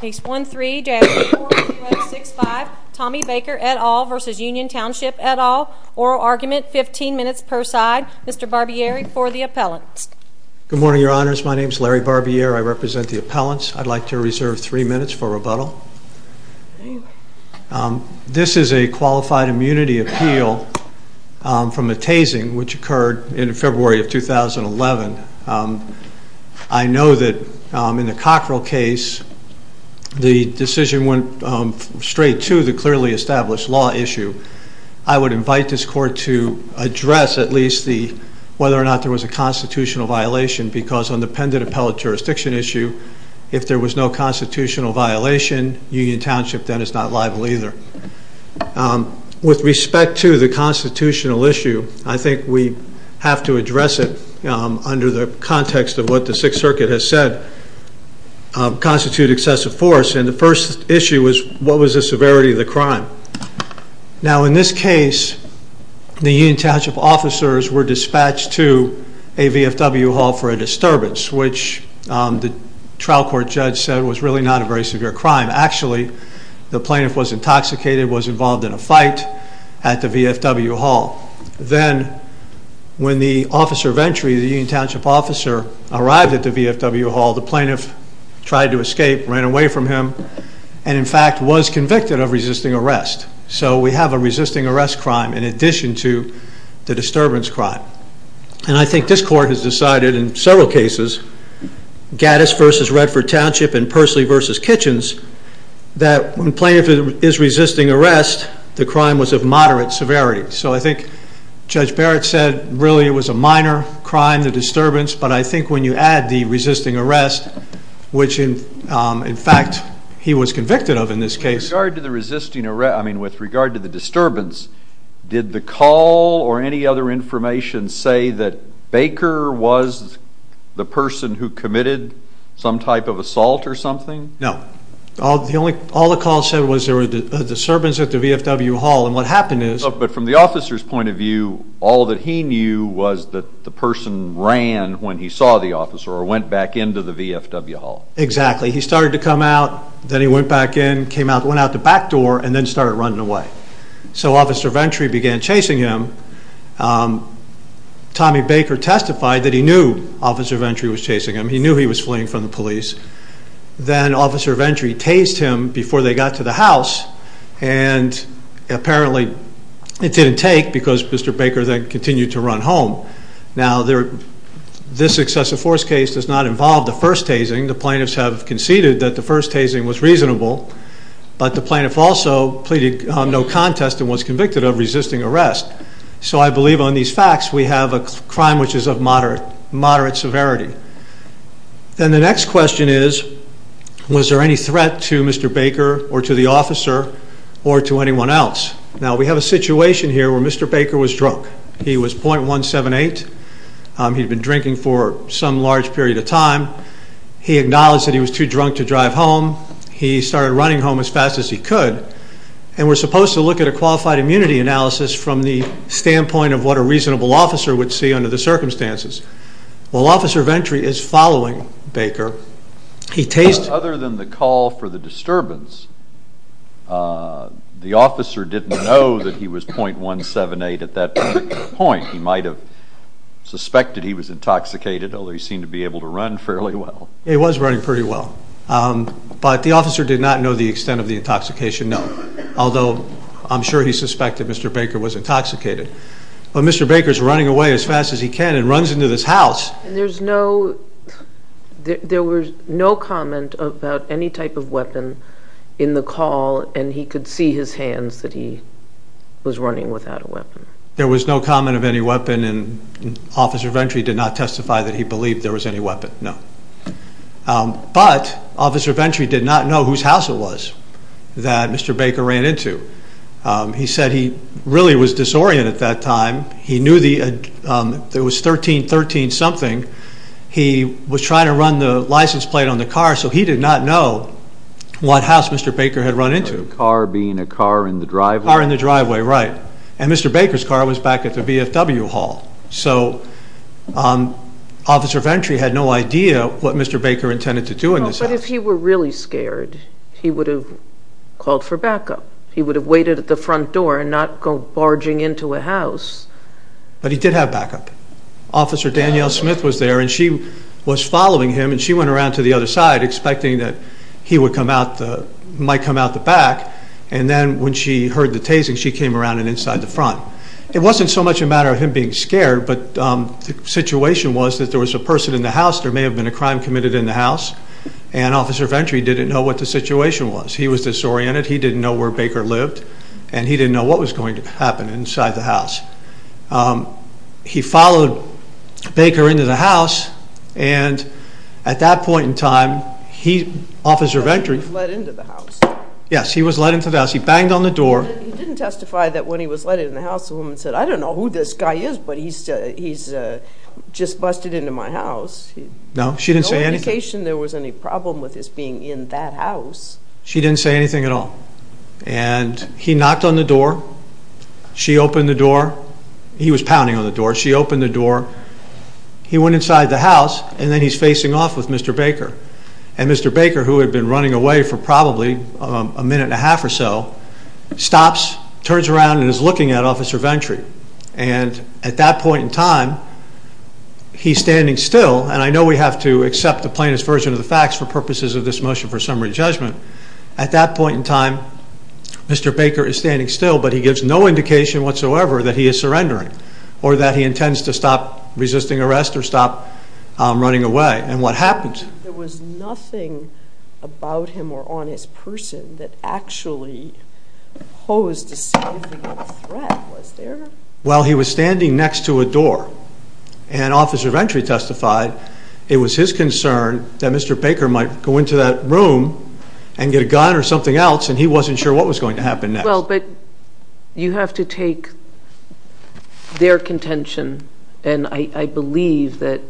Case 13-4065, Tommy Baker, et al. v. Union Township, et al. Oral argument, 15 minutes per side. Mr. Barbieri for the appellants. Good morning, Your Honors. My name is Larry Barbieri. I represent the appellants. I'd like to reserve three minutes for rebuttal. This is a qualified immunity appeal from a tasing which occurred in February of 2011. I know that in the Cockrell case, the decision went straight to the clearly established law issue. I would invite this court to address at least whether or not there was a constitutional violation because on the pendent appellate jurisdiction issue, if there was no constitutional violation, Union Township then is not liable either. With respect to the constitutional issue, I think we have to address it under the context of what the Sixth Circuit has said, constitute excessive force. And the first issue was, what was the severity of the crime? Now in this case, the Union Township officers were dispatched to a VFW hall for a disturbance, which the trial court judge said was really not a very severe crime. Actually, the plaintiff was intoxicated, was involved in a fight at the VFW hall. Then when the officer of entry, the Union Township officer, arrived at the VFW hall, the plaintiff tried to escape, ran away from him, and in fact was convicted of resisting arrest. So we have a resisting arrest crime in addition to the disturbance crime. And I think this court has decided in several cases, Gaddis v. Redford Township and Pursley v. Kitchens, that when plaintiff is resisting arrest, the crime was of moderate severity. So I think Judge Barrett said really it was a minor crime, the disturbance, but I think when you add the resisting arrest, which in fact he was convicted of in this case. With regard to the resisting arrest, I mean with regard to the disturbance, did the call or any other information say that Baker was the person who committed some type of assault or something? No. All the call said was there was a disturbance at the VFW hall, and what happened is But from the officer's point of view, all that he knew was that the person ran when he saw the officer or went back into the VFW hall. Exactly. He started to come out, then he went back in, came out, went out the back door, and then started running away. So Officer Ventry began chasing him. Tommy Baker testified that he knew Officer Ventry was chasing him. He knew he was fleeing from the police. Then Officer Ventry tased him before they got to the house, and apparently it didn't take because Mr. Baker then continued to run home. Now this excessive force case does not involve the first tasing. The plaintiffs have conceded that the first tasing was reasonable, but the plaintiff also pleaded no contest and was convicted of resisting arrest. So I believe on these facts we have a crime which is of moderate severity. Then the next question is, was there any threat to Mr. Baker or to the officer or to anyone else? Now we have a situation here where Mr. Baker was drunk. He was .178. He'd been drinking for some large period of time. He acknowledged that he was too drunk to drive home. He started running home as fast as he could, and we're supposed to look at a qualified immunity analysis from the standpoint of what a reasonable officer would see under the circumstances. Well, Officer Ventry is following Baker. Other than the call for the disturbance, the officer didn't know that he was .178 at that point. He might have suspected he was intoxicated, although he seemed to be able to run fairly well. He was running pretty well, but the officer did not know the extent of the intoxication, no, although I'm sure he suspected Mr. Baker was intoxicated. But Mr. Baker is running away as fast as he can and runs into this house. There was no comment about any type of weapon in the call, and he could see his hands that he was running without a weapon. There was no comment of any weapon, and Officer Ventry did not testify that he believed there was any weapon, no. But Officer Ventry did not know whose house it was that Mr. Baker ran into. He said he really was disoriented at that time. He knew it was 1313-something. He was trying to run the license plate on the car, so he did not know what house Mr. Baker had run into. The car being a car in the driveway? Car in the driveway, right. And Mr. Baker's car was back at the VFW hall, so Officer Ventry had no idea what Mr. Baker intended to do in this house. But if he were really scared, he would have called for backup. He would have waited at the front door and not go barging into a house. But he did have backup. Officer Danielle Smith was there, and she was following him, and she went around to the other side expecting that he might come out the back, and then when she heard the tasing, she came around and inside the front. It wasn't so much a matter of him being scared, but the situation was that there was a person in the house, there may have been a crime committed in the house, and Officer Ventry didn't know what the situation was. He was disoriented. He didn't know where Baker lived, and he didn't know what was going to happen inside the house. He followed Baker into the house, and at that point in time, Officer Ventry was let into the house. Yes, he was let into the house. He banged on the door. He didn't testify that when he was let in the house, the woman said, I don't know who this guy is, but he's just busted into my house. No, she didn't say anything. No indication there was any problem with his being in that house. She didn't say anything at all. And he knocked on the door. She opened the door. He was pounding on the door. She opened the door. He went inside the house, and then he's facing off with Mr. Baker. And Mr. Baker, who had been running away for probably a minute and a half or so, stops, turns around, and is looking at Officer Ventry. And at that point in time, he's standing still, and I know we have to accept the plaintiff's version of the facts for purposes of this motion for summary judgment. At that point in time, Mr. Baker is standing still, but he gives no indication whatsoever that he is surrendering or that he intends to stop resisting arrest or stop running away. And what happens? There was nothing about him or on his person that actually posed a significant threat, was there? Well, he was standing next to a door, and Officer Ventry testified it was his concern that Mr. Baker might go into that room and get a gun or something else, and he wasn't sure what was going to happen next. Well, but you have to take their contention, and I believe that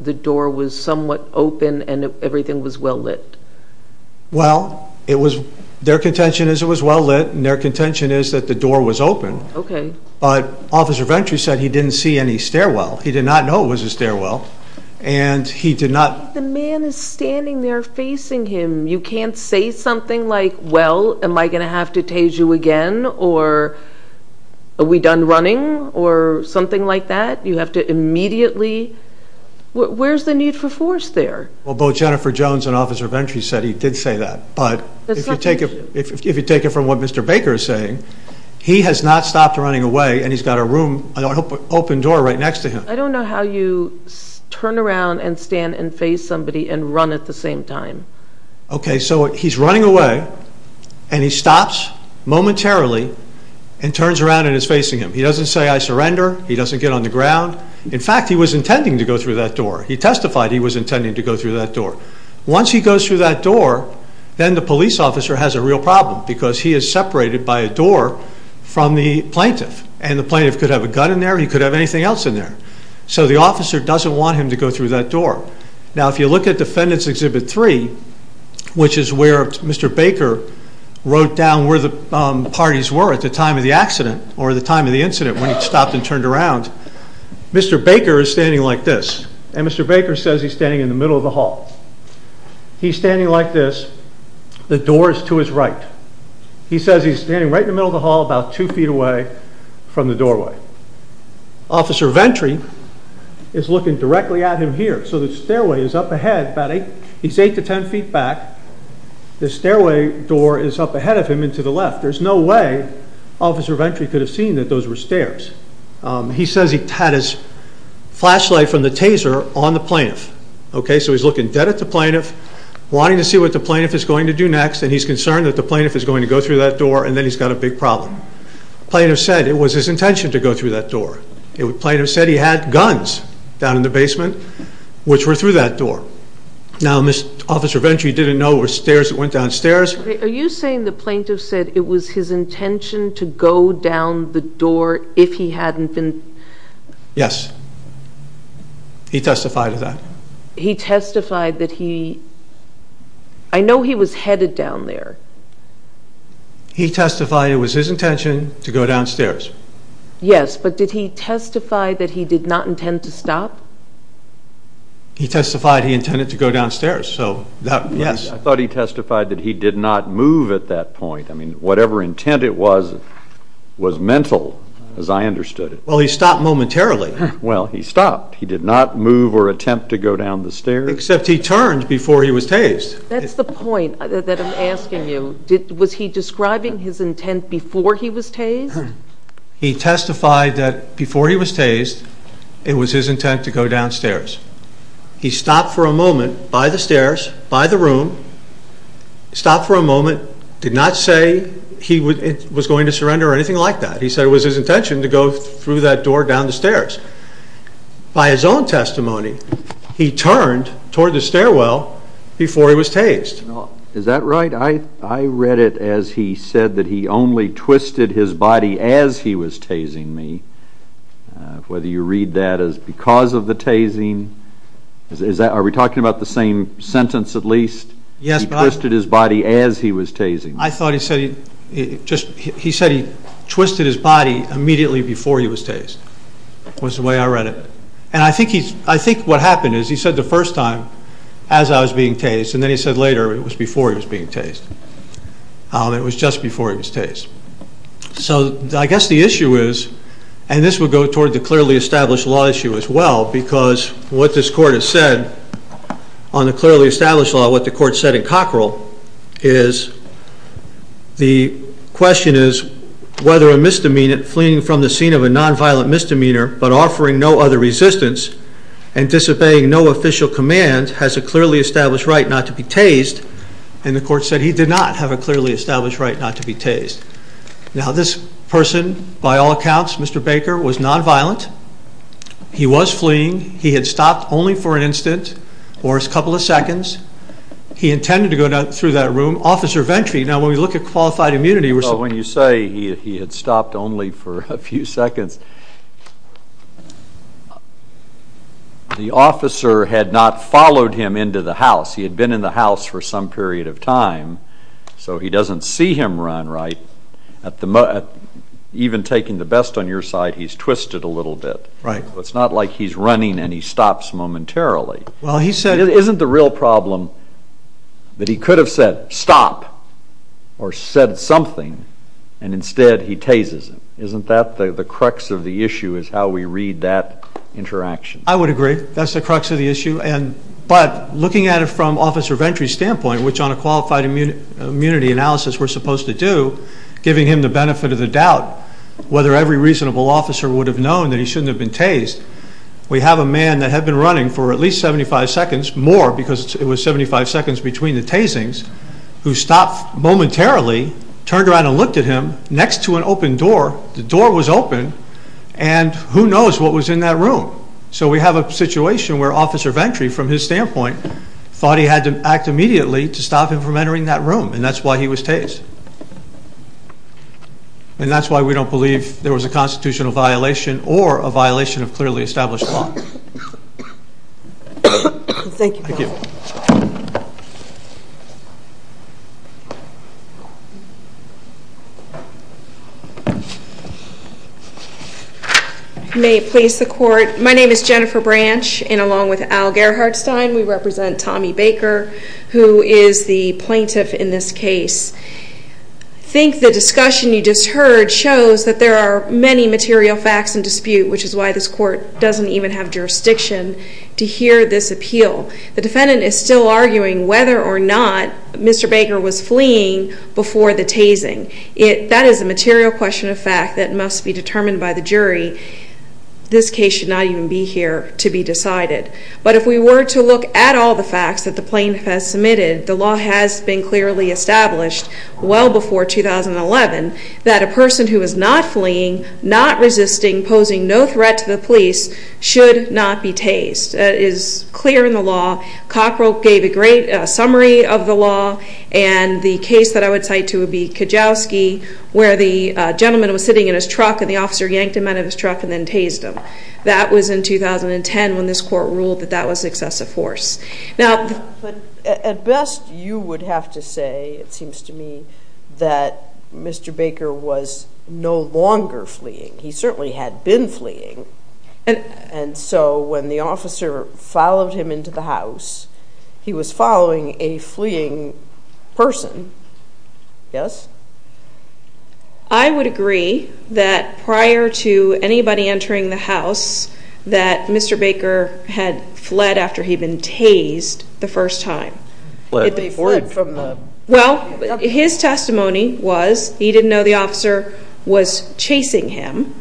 the door was somewhat open and everything was well lit. Well, their contention is it was well lit, and their contention is that the door was open. Okay. But Officer Ventry said he didn't see any stairwell. He did not know it was a stairwell, and he did not... The man is standing there facing him. You can't say something like, well, am I going to have to tase you again, or are we done running, or something like that. You have to immediately... Where's the need for force there? Well, both Jennifer Jones and Officer Ventry said he did say that, but if you take it from what Mr. Baker is saying, he has not stopped running away, and he's got a room, an open door right next to him. I don't know how you turn around and stand and face somebody and run at the same time. Okay, so he's running away, and he stops momentarily and turns around and is facing him. He doesn't say, I surrender. He doesn't get on the ground. In fact, he was intending to go through that door. He testified he was intending to go through that door. Once he goes through that door, then the police officer has a real problem because he is separated by a door from the plaintiff, and the plaintiff could have a gun in there or he could have anything else in there. So the officer doesn't want him to go through that door. Now, if you look at Defendants Exhibit 3, which is where Mr. Baker wrote down where the parties were at the time of the accident or the time of the incident when he stopped and turned around, Mr. Baker is standing like this, and Mr. Baker says he's standing in the middle of the hall. He's standing like this. The door is to his right. He says he's standing right in the middle of the hall about two feet away from the doorway. Officer Ventry is looking directly at him here. So the stairway is up ahead about 8 to 10 feet back. The stairway door is up ahead of him and to the left. There's no way Officer Ventry could have seen that those were stairs. He says he had his flashlight from the taser on the plaintiff. So he's looking dead at the plaintiff, wanting to see what the plaintiff is going to do next, and he's concerned that the plaintiff is going to go through that door, and then he's got a big problem. The plaintiff said it was his intention to go through that door. The plaintiff said he had guns down in the basement which were through that door. Now, Officer Ventry didn't know it was stairs that went downstairs. Are you saying the plaintiff said it was his intention to go down the door if he hadn't been? Yes. He testified to that. He testified that he, I know he was headed down there. He testified it was his intention to go downstairs. Yes, but did he testify that he did not intend to stop? He testified he intended to go downstairs, so that, yes. I thought he testified that he did not move at that point. I mean, whatever intent it was was mental as I understood it. Well, he stopped momentarily. Well, he stopped. He did not move or attempt to go down the stairs. Except he turned before he was tased. That's the point that I'm asking you. Was he describing his intent before he was tased? He testified that before he was tased it was his intent to go downstairs. He stopped for a moment by the stairs, by the room, stopped for a moment, did not say he was going to surrender or anything like that. He said it was his intention to go through that door down the stairs. By his own testimony, he turned toward the stairwell before he was tased. Is that right? I read it as he said that he only twisted his body as he was tasing me, whether you read that as because of the tasing. Are we talking about the same sentence at least? He twisted his body as he was tasing me. I thought he said he twisted his body immediately before he was tased was the way I read it. I think what happened is he said the first time as I was being tased and then he said later it was before he was being tased. It was just before he was tased. So I guess the issue is, and this would go toward the clearly established law issue as well because what this court has said on the clearly established law, what the court said in Cockrell is the question is whether a misdemeanant fleeing from the scene of a nonviolent misdemeanor but offering no other resistance and disobeying no official command has a clearly established right not to be tased. And the court said he did not have a clearly established right not to be tased. Now this person, by all accounts, Mr. Baker, was nonviolent. He was fleeing. He had stopped only for an instant or a couple of seconds. He intended to go through that room. Officer Ventry, now when we look at qualified immunity, when you say he had stopped only for a few seconds, the officer had not followed him into the house. He had been in the house for some period of time, so he doesn't see him run, right? Even taking the best on your side, he's twisted a little bit. It's not like he's running and he stops momentarily. Isn't the real problem that he could have said stop or said something and instead he tases him? Isn't that the crux of the issue is how we read that interaction? I would agree. That's the crux of the issue. But looking at it from Officer Ventry's standpoint, which on a qualified immunity analysis we're supposed to do, giving him the benefit of the doubt, whether every reasonable officer would have known that he shouldn't have been tased, we have a man that had been running for at least 75 seconds, more because it was 75 seconds between the tasings, who stopped momentarily, turned around and looked at him, next to an open door. The door was open, and who knows what was in that room. So we have a situation where Officer Ventry, from his standpoint, thought he had to act immediately to stop him from entering that room, and that's why he was tased. And that's why we don't believe there was a constitutional violation or a violation of clearly established law. Thank you. May it please the Court, my name is Jennifer Branch, and along with Al Gerhardstein, we represent Tommy Baker, who is the plaintiff in this case. I think the discussion you just heard shows that there are many material facts in dispute, which is why this Court doesn't even have jurisdiction to hear this appeal. The defendant is still arguing whether or not Mr. Baker was fleeing before the tasing. That is a material question of fact that must be determined by the jury. This case should not even be here to be decided. But if we were to look at all the facts that the plaintiff has submitted, the law has been clearly established well before 2011 that a person who is not fleeing, not resisting, posing no threat to the police, should not be tased. That is clear in the law. Cockroach gave a great summary of the law, and the case that I would cite to would be Kajowski, where the gentleman was sitting in his truck, and the officer yanked him out of his truck and then tased him. That was in 2010 when this Court ruled that that was excessive force. At best, you would have to say, it seems to me, that Mr. Baker was no longer fleeing. He certainly had been fleeing. And so when the officer followed him into the house, he was following a fleeing person. Yes? I would agree that prior to anybody entering the house, that Mr. Baker had fled after he'd been tased the first time. Well, his testimony was he didn't know the officer was chasing him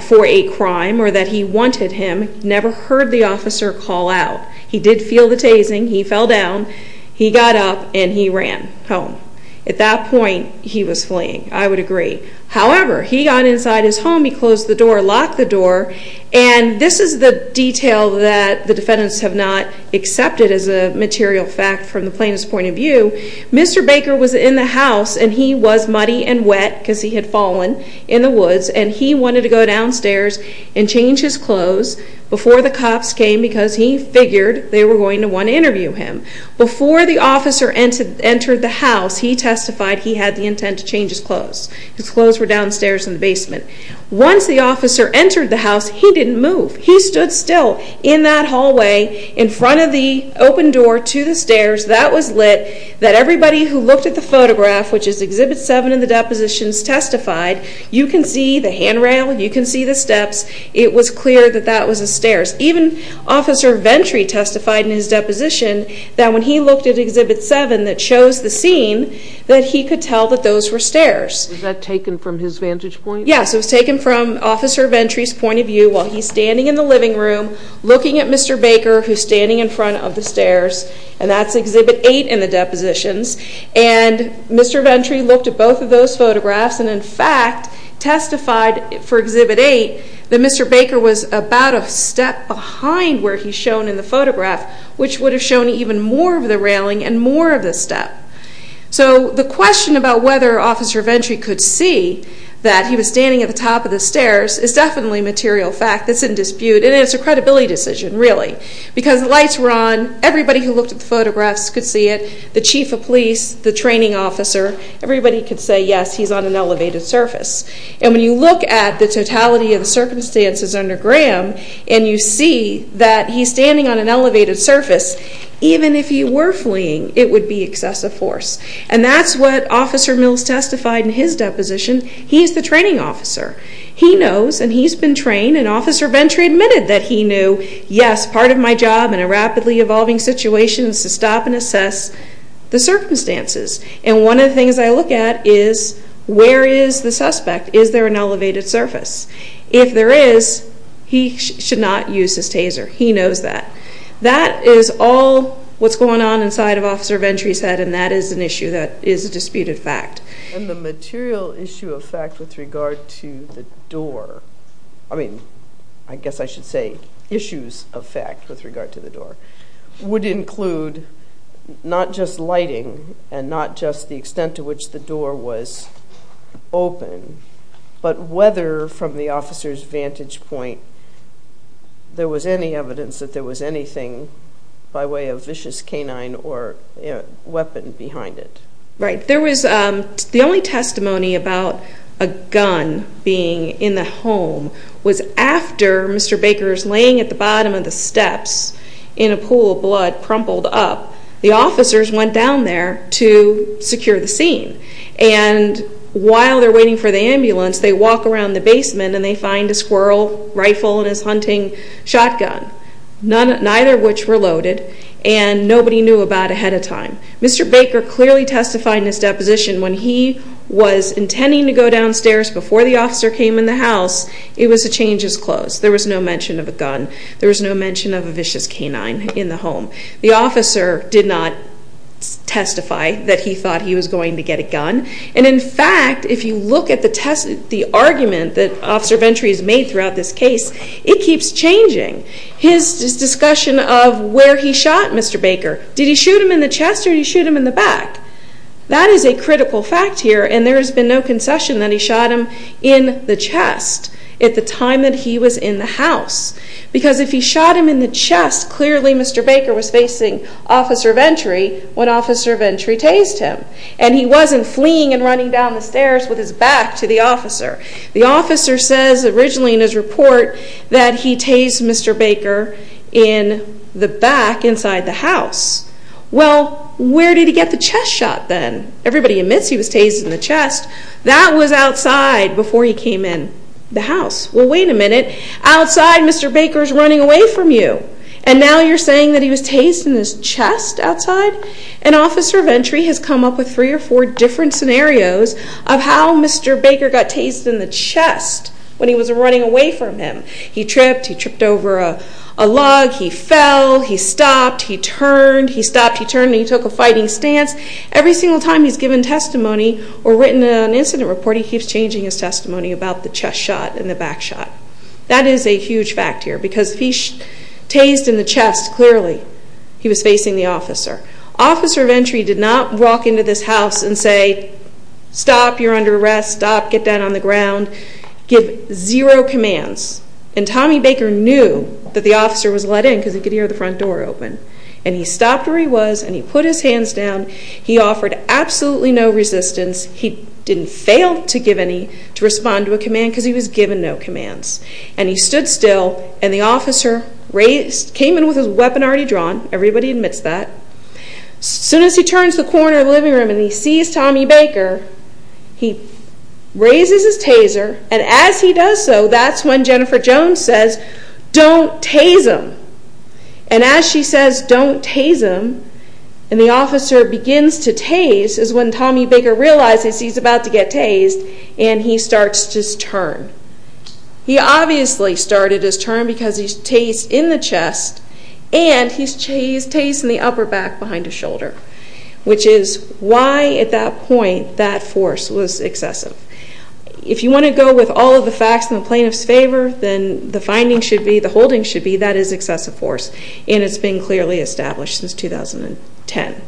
for a crime or that he wanted him. He never heard the officer call out. He did feel the tasing. He fell down. He got up, and he ran home. At that point, he was fleeing. I would agree. However, he got inside his home. He closed the door, locked the door, and this is the detail that the defendants have not accepted as a material fact from the plainest point of view. Mr. Baker was in the house, and he was muddy and wet because he had fallen in the woods, and he wanted to go downstairs and change his clothes before the cops came because he figured they were going to want to interview him. Before the officer entered the house, he testified he had the intent to change his clothes. His clothes were downstairs in the basement. Once the officer entered the house, he didn't move. He stood still in that hallway in front of the open door to the stairs. That was lit, that everybody who looked at the photograph, which is Exhibit 7 in the depositions, testified. You can see the handrail. You can see the steps. It was clear that that was the stairs. Even Officer Ventry testified in his deposition that when he looked at Exhibit 7 that shows the scene that he could tell that those were stairs. Was that taken from his vantage point? Yes, it was taken from Officer Ventry's point of view while he's standing in the living room looking at Mr. Baker who's standing in front of the stairs, and that's Exhibit 8 in the depositions. And Mr. Ventry looked at both of those photographs and, in fact, testified for Exhibit 8 that Mr. Baker was about a step behind where he's shown in the photograph, which would have shown even more of the railing and more of the step. So the question about whether Officer Ventry could see that he was standing at the top of the stairs is definitely a material fact that's in dispute, and it's a credibility decision, really, because the lights were on, everybody who looked at the photographs could see it, the chief of police, the training officer. Everybody could say, yes, he's on an elevated surface. And when you look at the totality of the circumstances under Graham and you see that he's standing on an elevated surface, even if he were fleeing, it would be excessive force. And that's what Officer Mills testified in his deposition. He's the training officer. He knows, and he's been trained, and Officer Ventry admitted that he knew, yes, part of my job in a rapidly evolving situation is to stop and assess the circumstances. And one of the things I look at is where is the suspect? Is there an elevated surface? If there is, he should not use his taser. He knows that. That is all what's going on inside of Officer Ventry's head, and that is an issue that is a disputed fact. And the material issue of fact with regard to the door, I mean, I guess I should say issues of fact with regard to the door, would include not just lighting and not just the extent to which the door was open, but whether from the officer's vantage point there was any evidence that there was anything by way of vicious canine or weapon behind it. Right. The only testimony about a gun being in the home was after Mr. Baker's laying at the bottom of the steps in a pool of blood crumpled up. The officers went down there to secure the scene, and while they're waiting for the ambulance, they walk around the basement and they find a squirrel rifle and his hunting shotgun, neither of which were loaded, and nobody knew about it ahead of time. Mr. Baker clearly testified in his deposition when he was intending to go downstairs before the officer came in the house, it was a change is close. There was no mention of a gun. There was no mention of a vicious canine in the home. The officer did not testify that he thought he was going to get a gun, and in fact, if you look at the argument that Officer Venturi has made throughout this case, it keeps changing. His discussion of where he shot Mr. Baker, did he shoot him in the chest or did he shoot him in the back? That is a critical fact here, and there has been no concession that he shot him in the chest at the time that he was in the house, because if he shot him in the chest, clearly Mr. Baker was facing Officer Venturi when Officer Venturi tased him, and he wasn't fleeing and running down the stairs with his back to the officer. The officer says originally in his report that he tased Mr. Baker in the back inside the house. Well, where did he get the chest shot then? Everybody admits he was tased in the chest. That was outside before he came in the house. Well, wait a minute. Outside, Mr. Baker is running away from you, and now you're saying that he was tased in his chest outside? And Officer Venturi has come up with three or four different scenarios of how Mr. Baker got tased in the chest when he was running away from him. He tripped. He tripped over a log. He fell. He stopped. He turned. He stopped, he turned, and he took a fighting stance. Every single time he's given testimony or written an incident report, he keeps changing his testimony about the chest shot and the back shot. That is a huge fact here because if he tased in the chest, clearly he was facing the officer. Officer Venturi did not walk into this house and say, stop, you're under arrest, stop, get down on the ground, give zero commands. And Tommy Baker knew that the officer was let in because he could hear the front door open. And he stopped where he was and he put his hands down. He offered absolutely no resistance. He didn't fail to respond to a command because he was given no commands. And he stood still, and the officer came in with his weapon already drawn. Everybody admits that. As soon as he turns the corner of the living room and he sees Tommy Baker, he raises his taser, and as he does so, that's when Jennifer Jones says, don't tase him. And as she says, don't tase him, and the officer begins to tase is when Tommy Baker realizes he's about to get tased and he starts to turn. He obviously started his turn because he's tased in the chest and he's tased in the upper back behind his shoulder, which is why at that point that force was excessive. If you want to go with all of the facts in the plaintiff's favor, then the finding should be, the holding should be that is excessive force, and it's been clearly established since 2010.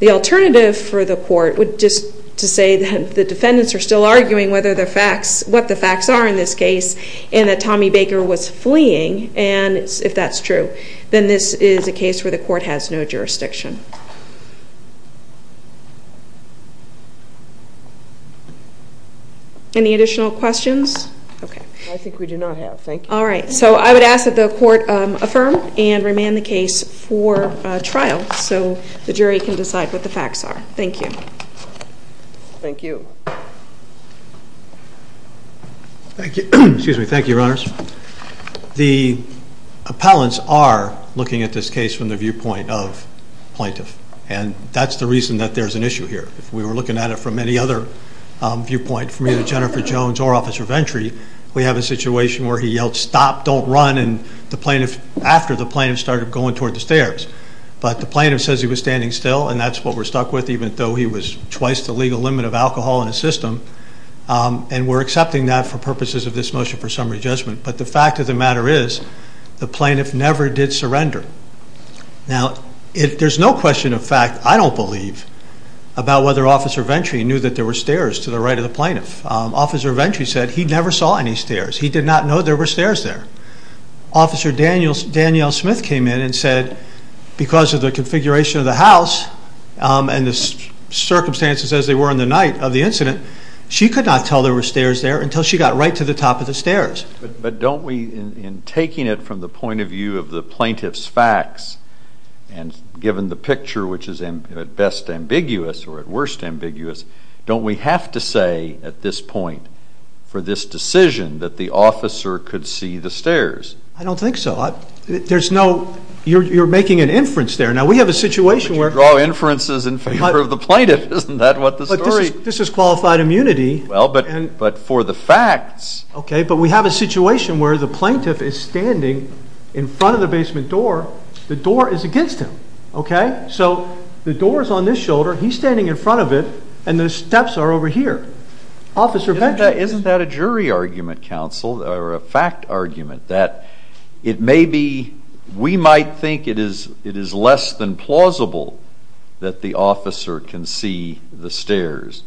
The alternative for the court would just to say that the defendants are still arguing what the facts are in this case and that Tommy Baker was fleeing, and if that's true, then this is a case where the court has no jurisdiction. Any additional questions? Okay. I think we do not have. Thank you. All right. So I would ask that the court affirm and remand the case for trial so the jury can decide what the facts are. Thank you. Thank you. Thank you. Excuse me. Thank you, Your Honors. The appellants are looking at this case from the viewpoint of plaintiff, and that's the reason that there's an issue here. If we were looking at it from any other viewpoint, from either Jennifer Jones or Officer Ventry, we have a situation where he yelled, stop, don't run, after the plaintiff started going toward the stairs. But the plaintiff says he was standing still, and that's what we're stuck with, even though he was twice the legal limit of alcohol in the system, and we're accepting that for purposes of this motion for summary judgment. But the fact of the matter is the plaintiff never did surrender. Now, there's no question of fact, I don't believe, about whether Officer Ventry knew that there were stairs to the right of the plaintiff. Officer Ventry said he never saw any stairs. He did not know there were stairs there. Officer Danielle Smith came in and said, because of the configuration of the house and the circumstances as they were in the night of the incident, she could not tell there were stairs there until she got right to the top of the stairs. But don't we, in taking it from the point of view of the plaintiff's facts and given the picture which is at best ambiguous or at worst ambiguous, don't we have to say at this point for this decision that the officer could see the stairs? I don't think so. There's no, you're making an inference there. Now, we have a situation where... But you draw inferences in favor of the plaintiff. Isn't that what the story... But this is qualified immunity. Well, but for the facts... Okay, but we have a situation where the plaintiff is standing in front of the basement door. The door is against him, okay? So the door is on this shoulder. He's standing in front of it, and the steps are over here. Officer Benjamin... Isn't that a jury argument, counsel, or a fact argument that it may be, we might think it is less than plausible that the officer can see the stairs,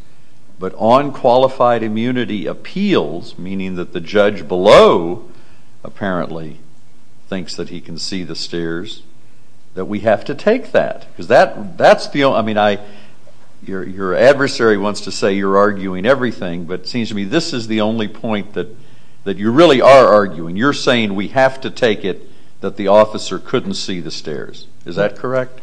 but on qualified immunity appeals, meaning that the judge below apparently thinks that he can see the stairs, that we have to take that. Because that's the only... I mean, your adversary wants to say you're arguing everything, but it seems to me this is the only point that you really are arguing. You're saying we have to take it that the officer couldn't see the stairs. Is that correct?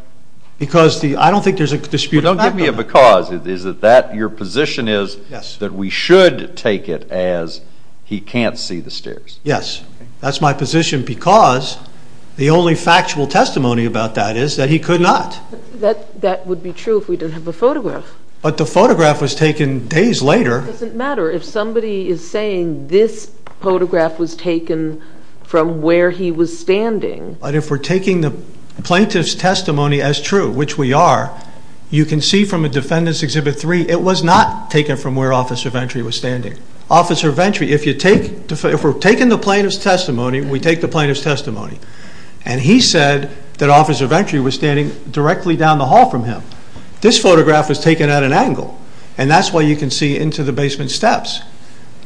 Because the... I don't think there's a dispute... Well, don't give me a because. Is it that your position is that we should take it as he can't see the stairs? Yes. That's my position because the only factual testimony about that is that he could not. That would be true if we didn't have the photograph. But the photograph was taken days later. It doesn't matter. If somebody is saying this photograph was taken from where he was standing... But if we're taking the plaintiff's testimony as true, which we are, you can see from a defendant's Exhibit 3 it was not taken from where Officer Ventry was standing. Officer Ventry, if we're taking the plaintiff's testimony, we take the plaintiff's testimony, and he said that Officer Ventry was standing directly down the hall from him. This photograph was taken at an angle, and that's why you can see into the basement steps.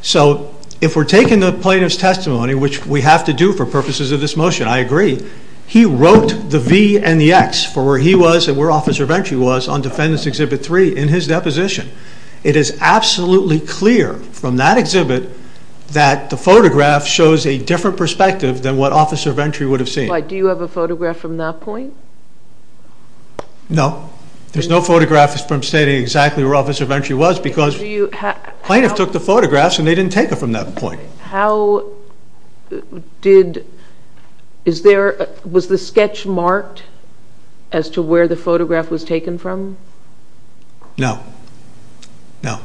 So if we're taking the plaintiff's testimony, which we have to do for purposes of this motion, I agree, he wrote the V and the X for where he was and where Officer Ventry was on defendant's Exhibit 3 in his deposition. It is absolutely clear from that exhibit that the photograph shows a different perspective than what Officer Ventry would have seen. Do you have a photograph from that point? No. There's no photograph from stating exactly where Officer Ventry was because the plaintiff took the photographs and they didn't take it from that point. How did... Was the sketch marked as to where the photograph was taken from? No. No.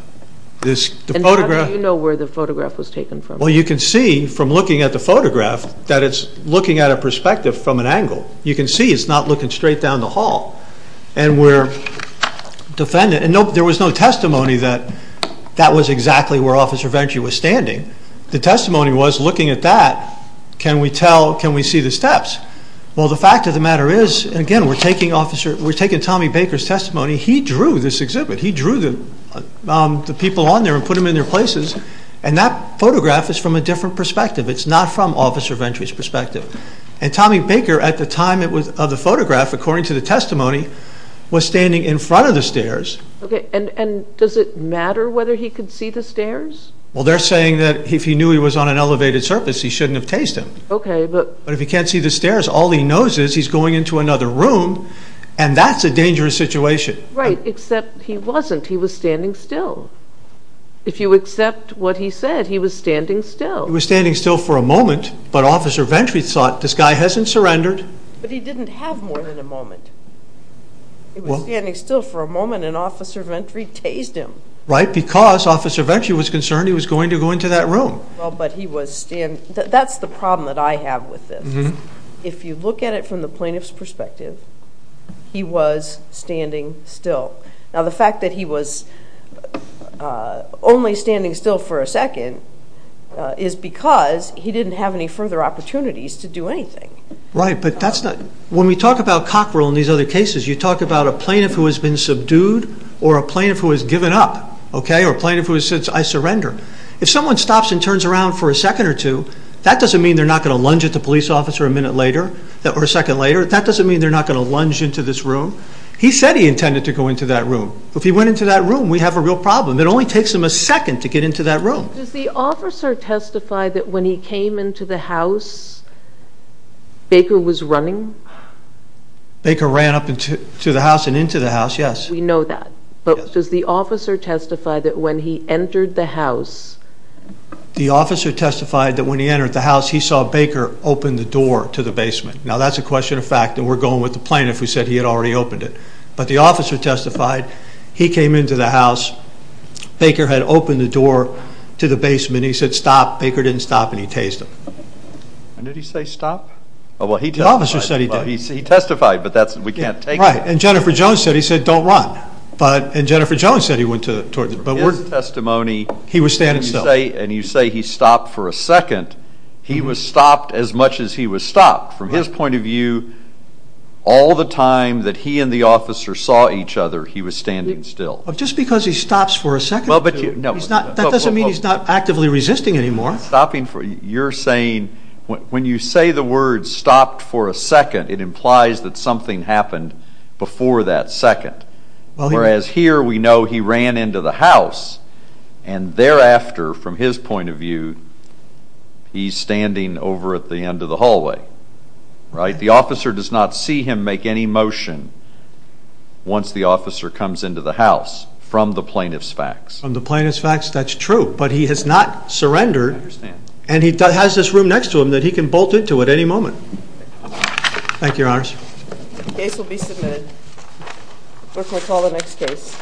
And how do you know where the photograph was taken from? Well, you can see from looking at the photograph that it's looking at a perspective from an angle. You can see it's not looking straight down the hall. And there was no testimony that that was exactly where Officer Ventry was standing. The testimony was, looking at that, can we see the steps? Well, the fact of the matter is, again, we're taking Tommy Baker's testimony. He drew this exhibit. He drew the people on there and put them in their places. And that photograph is from a different perspective. It's not from Officer Ventry's perspective. And Tommy Baker, at the time of the photograph, according to the testimony, was standing in front of the stairs. Okay, and does it matter whether he could see the stairs? Well, they're saying that if he knew he was on an elevated surface he shouldn't have tased him. Okay, but... But if he can't see the stairs, all he knows is he's going into another room, and that's a dangerous situation. Right, except he wasn't. He was standing still. If you accept what he said, he was standing still. He was standing still for a moment, but Officer Ventry thought, this guy hasn't surrendered. But he didn't have more than a moment. He was standing still for a moment, and Officer Ventry tased him. Right, because Officer Ventry was concerned he was going to go into that room. Well, but he was standing... That's the problem that I have with this. If you look at it from the plaintiff's perspective, he was standing still. Now, the fact that he was only standing still for a second is because he didn't have any further opportunities to do anything. Right, but that's not... When we talk about cockerel in these other cases, you talk about a plaintiff who has been subdued or a plaintiff who has given up, okay, or a plaintiff who says, I surrender. If someone stops and turns around for a second or two, that doesn't mean they're not going to lunge at the police officer a minute later or a second later. That doesn't mean they're not going to lunge into this room. He said he intended to go into that room. If he went into that room, we have a real problem. It only takes him a second to get into that room. Does the officer testify that when he came into the house, Baker was running? Baker ran up to the house and into the house, yes. We know that. But does the officer testify that when he entered the house... The officer testified that when he entered the house, he saw Baker open the door to the basement. Now, that's a question of fact, and we're going with the plaintiff who said he had already opened it. But the officer testified he came into the house. Baker had opened the door to the basement. He said, Stop. Baker didn't stop, and he tased him. And did he say, Stop? The officer said he did. He testified, but we can't take that. Right, and Jennifer Jones said he said, Don't run. And Jennifer Jones said he went toward the... His testimony... He was standing still. And you say he stopped for a second. He was stopped as much as he was stopped. From his point of view, all the time that he and the officer saw each other, he was standing still. Just because he stops for a second, that doesn't mean he's not actively resisting anymore. You're saying when you say the word stopped for a second, it implies that something happened before that second. Whereas here we know he ran into the house, and thereafter, from his point of view, he's standing over at the end of the hallway. The officer does not see him make any motion once the officer comes into the house from the plaintiff's facts. From the plaintiff's facts, that's true. But he has not surrendered. And he has this room next to him that he can bolt into at any moment. Thank you, Your Honors. The case will be submitted. Clerk will call the next case.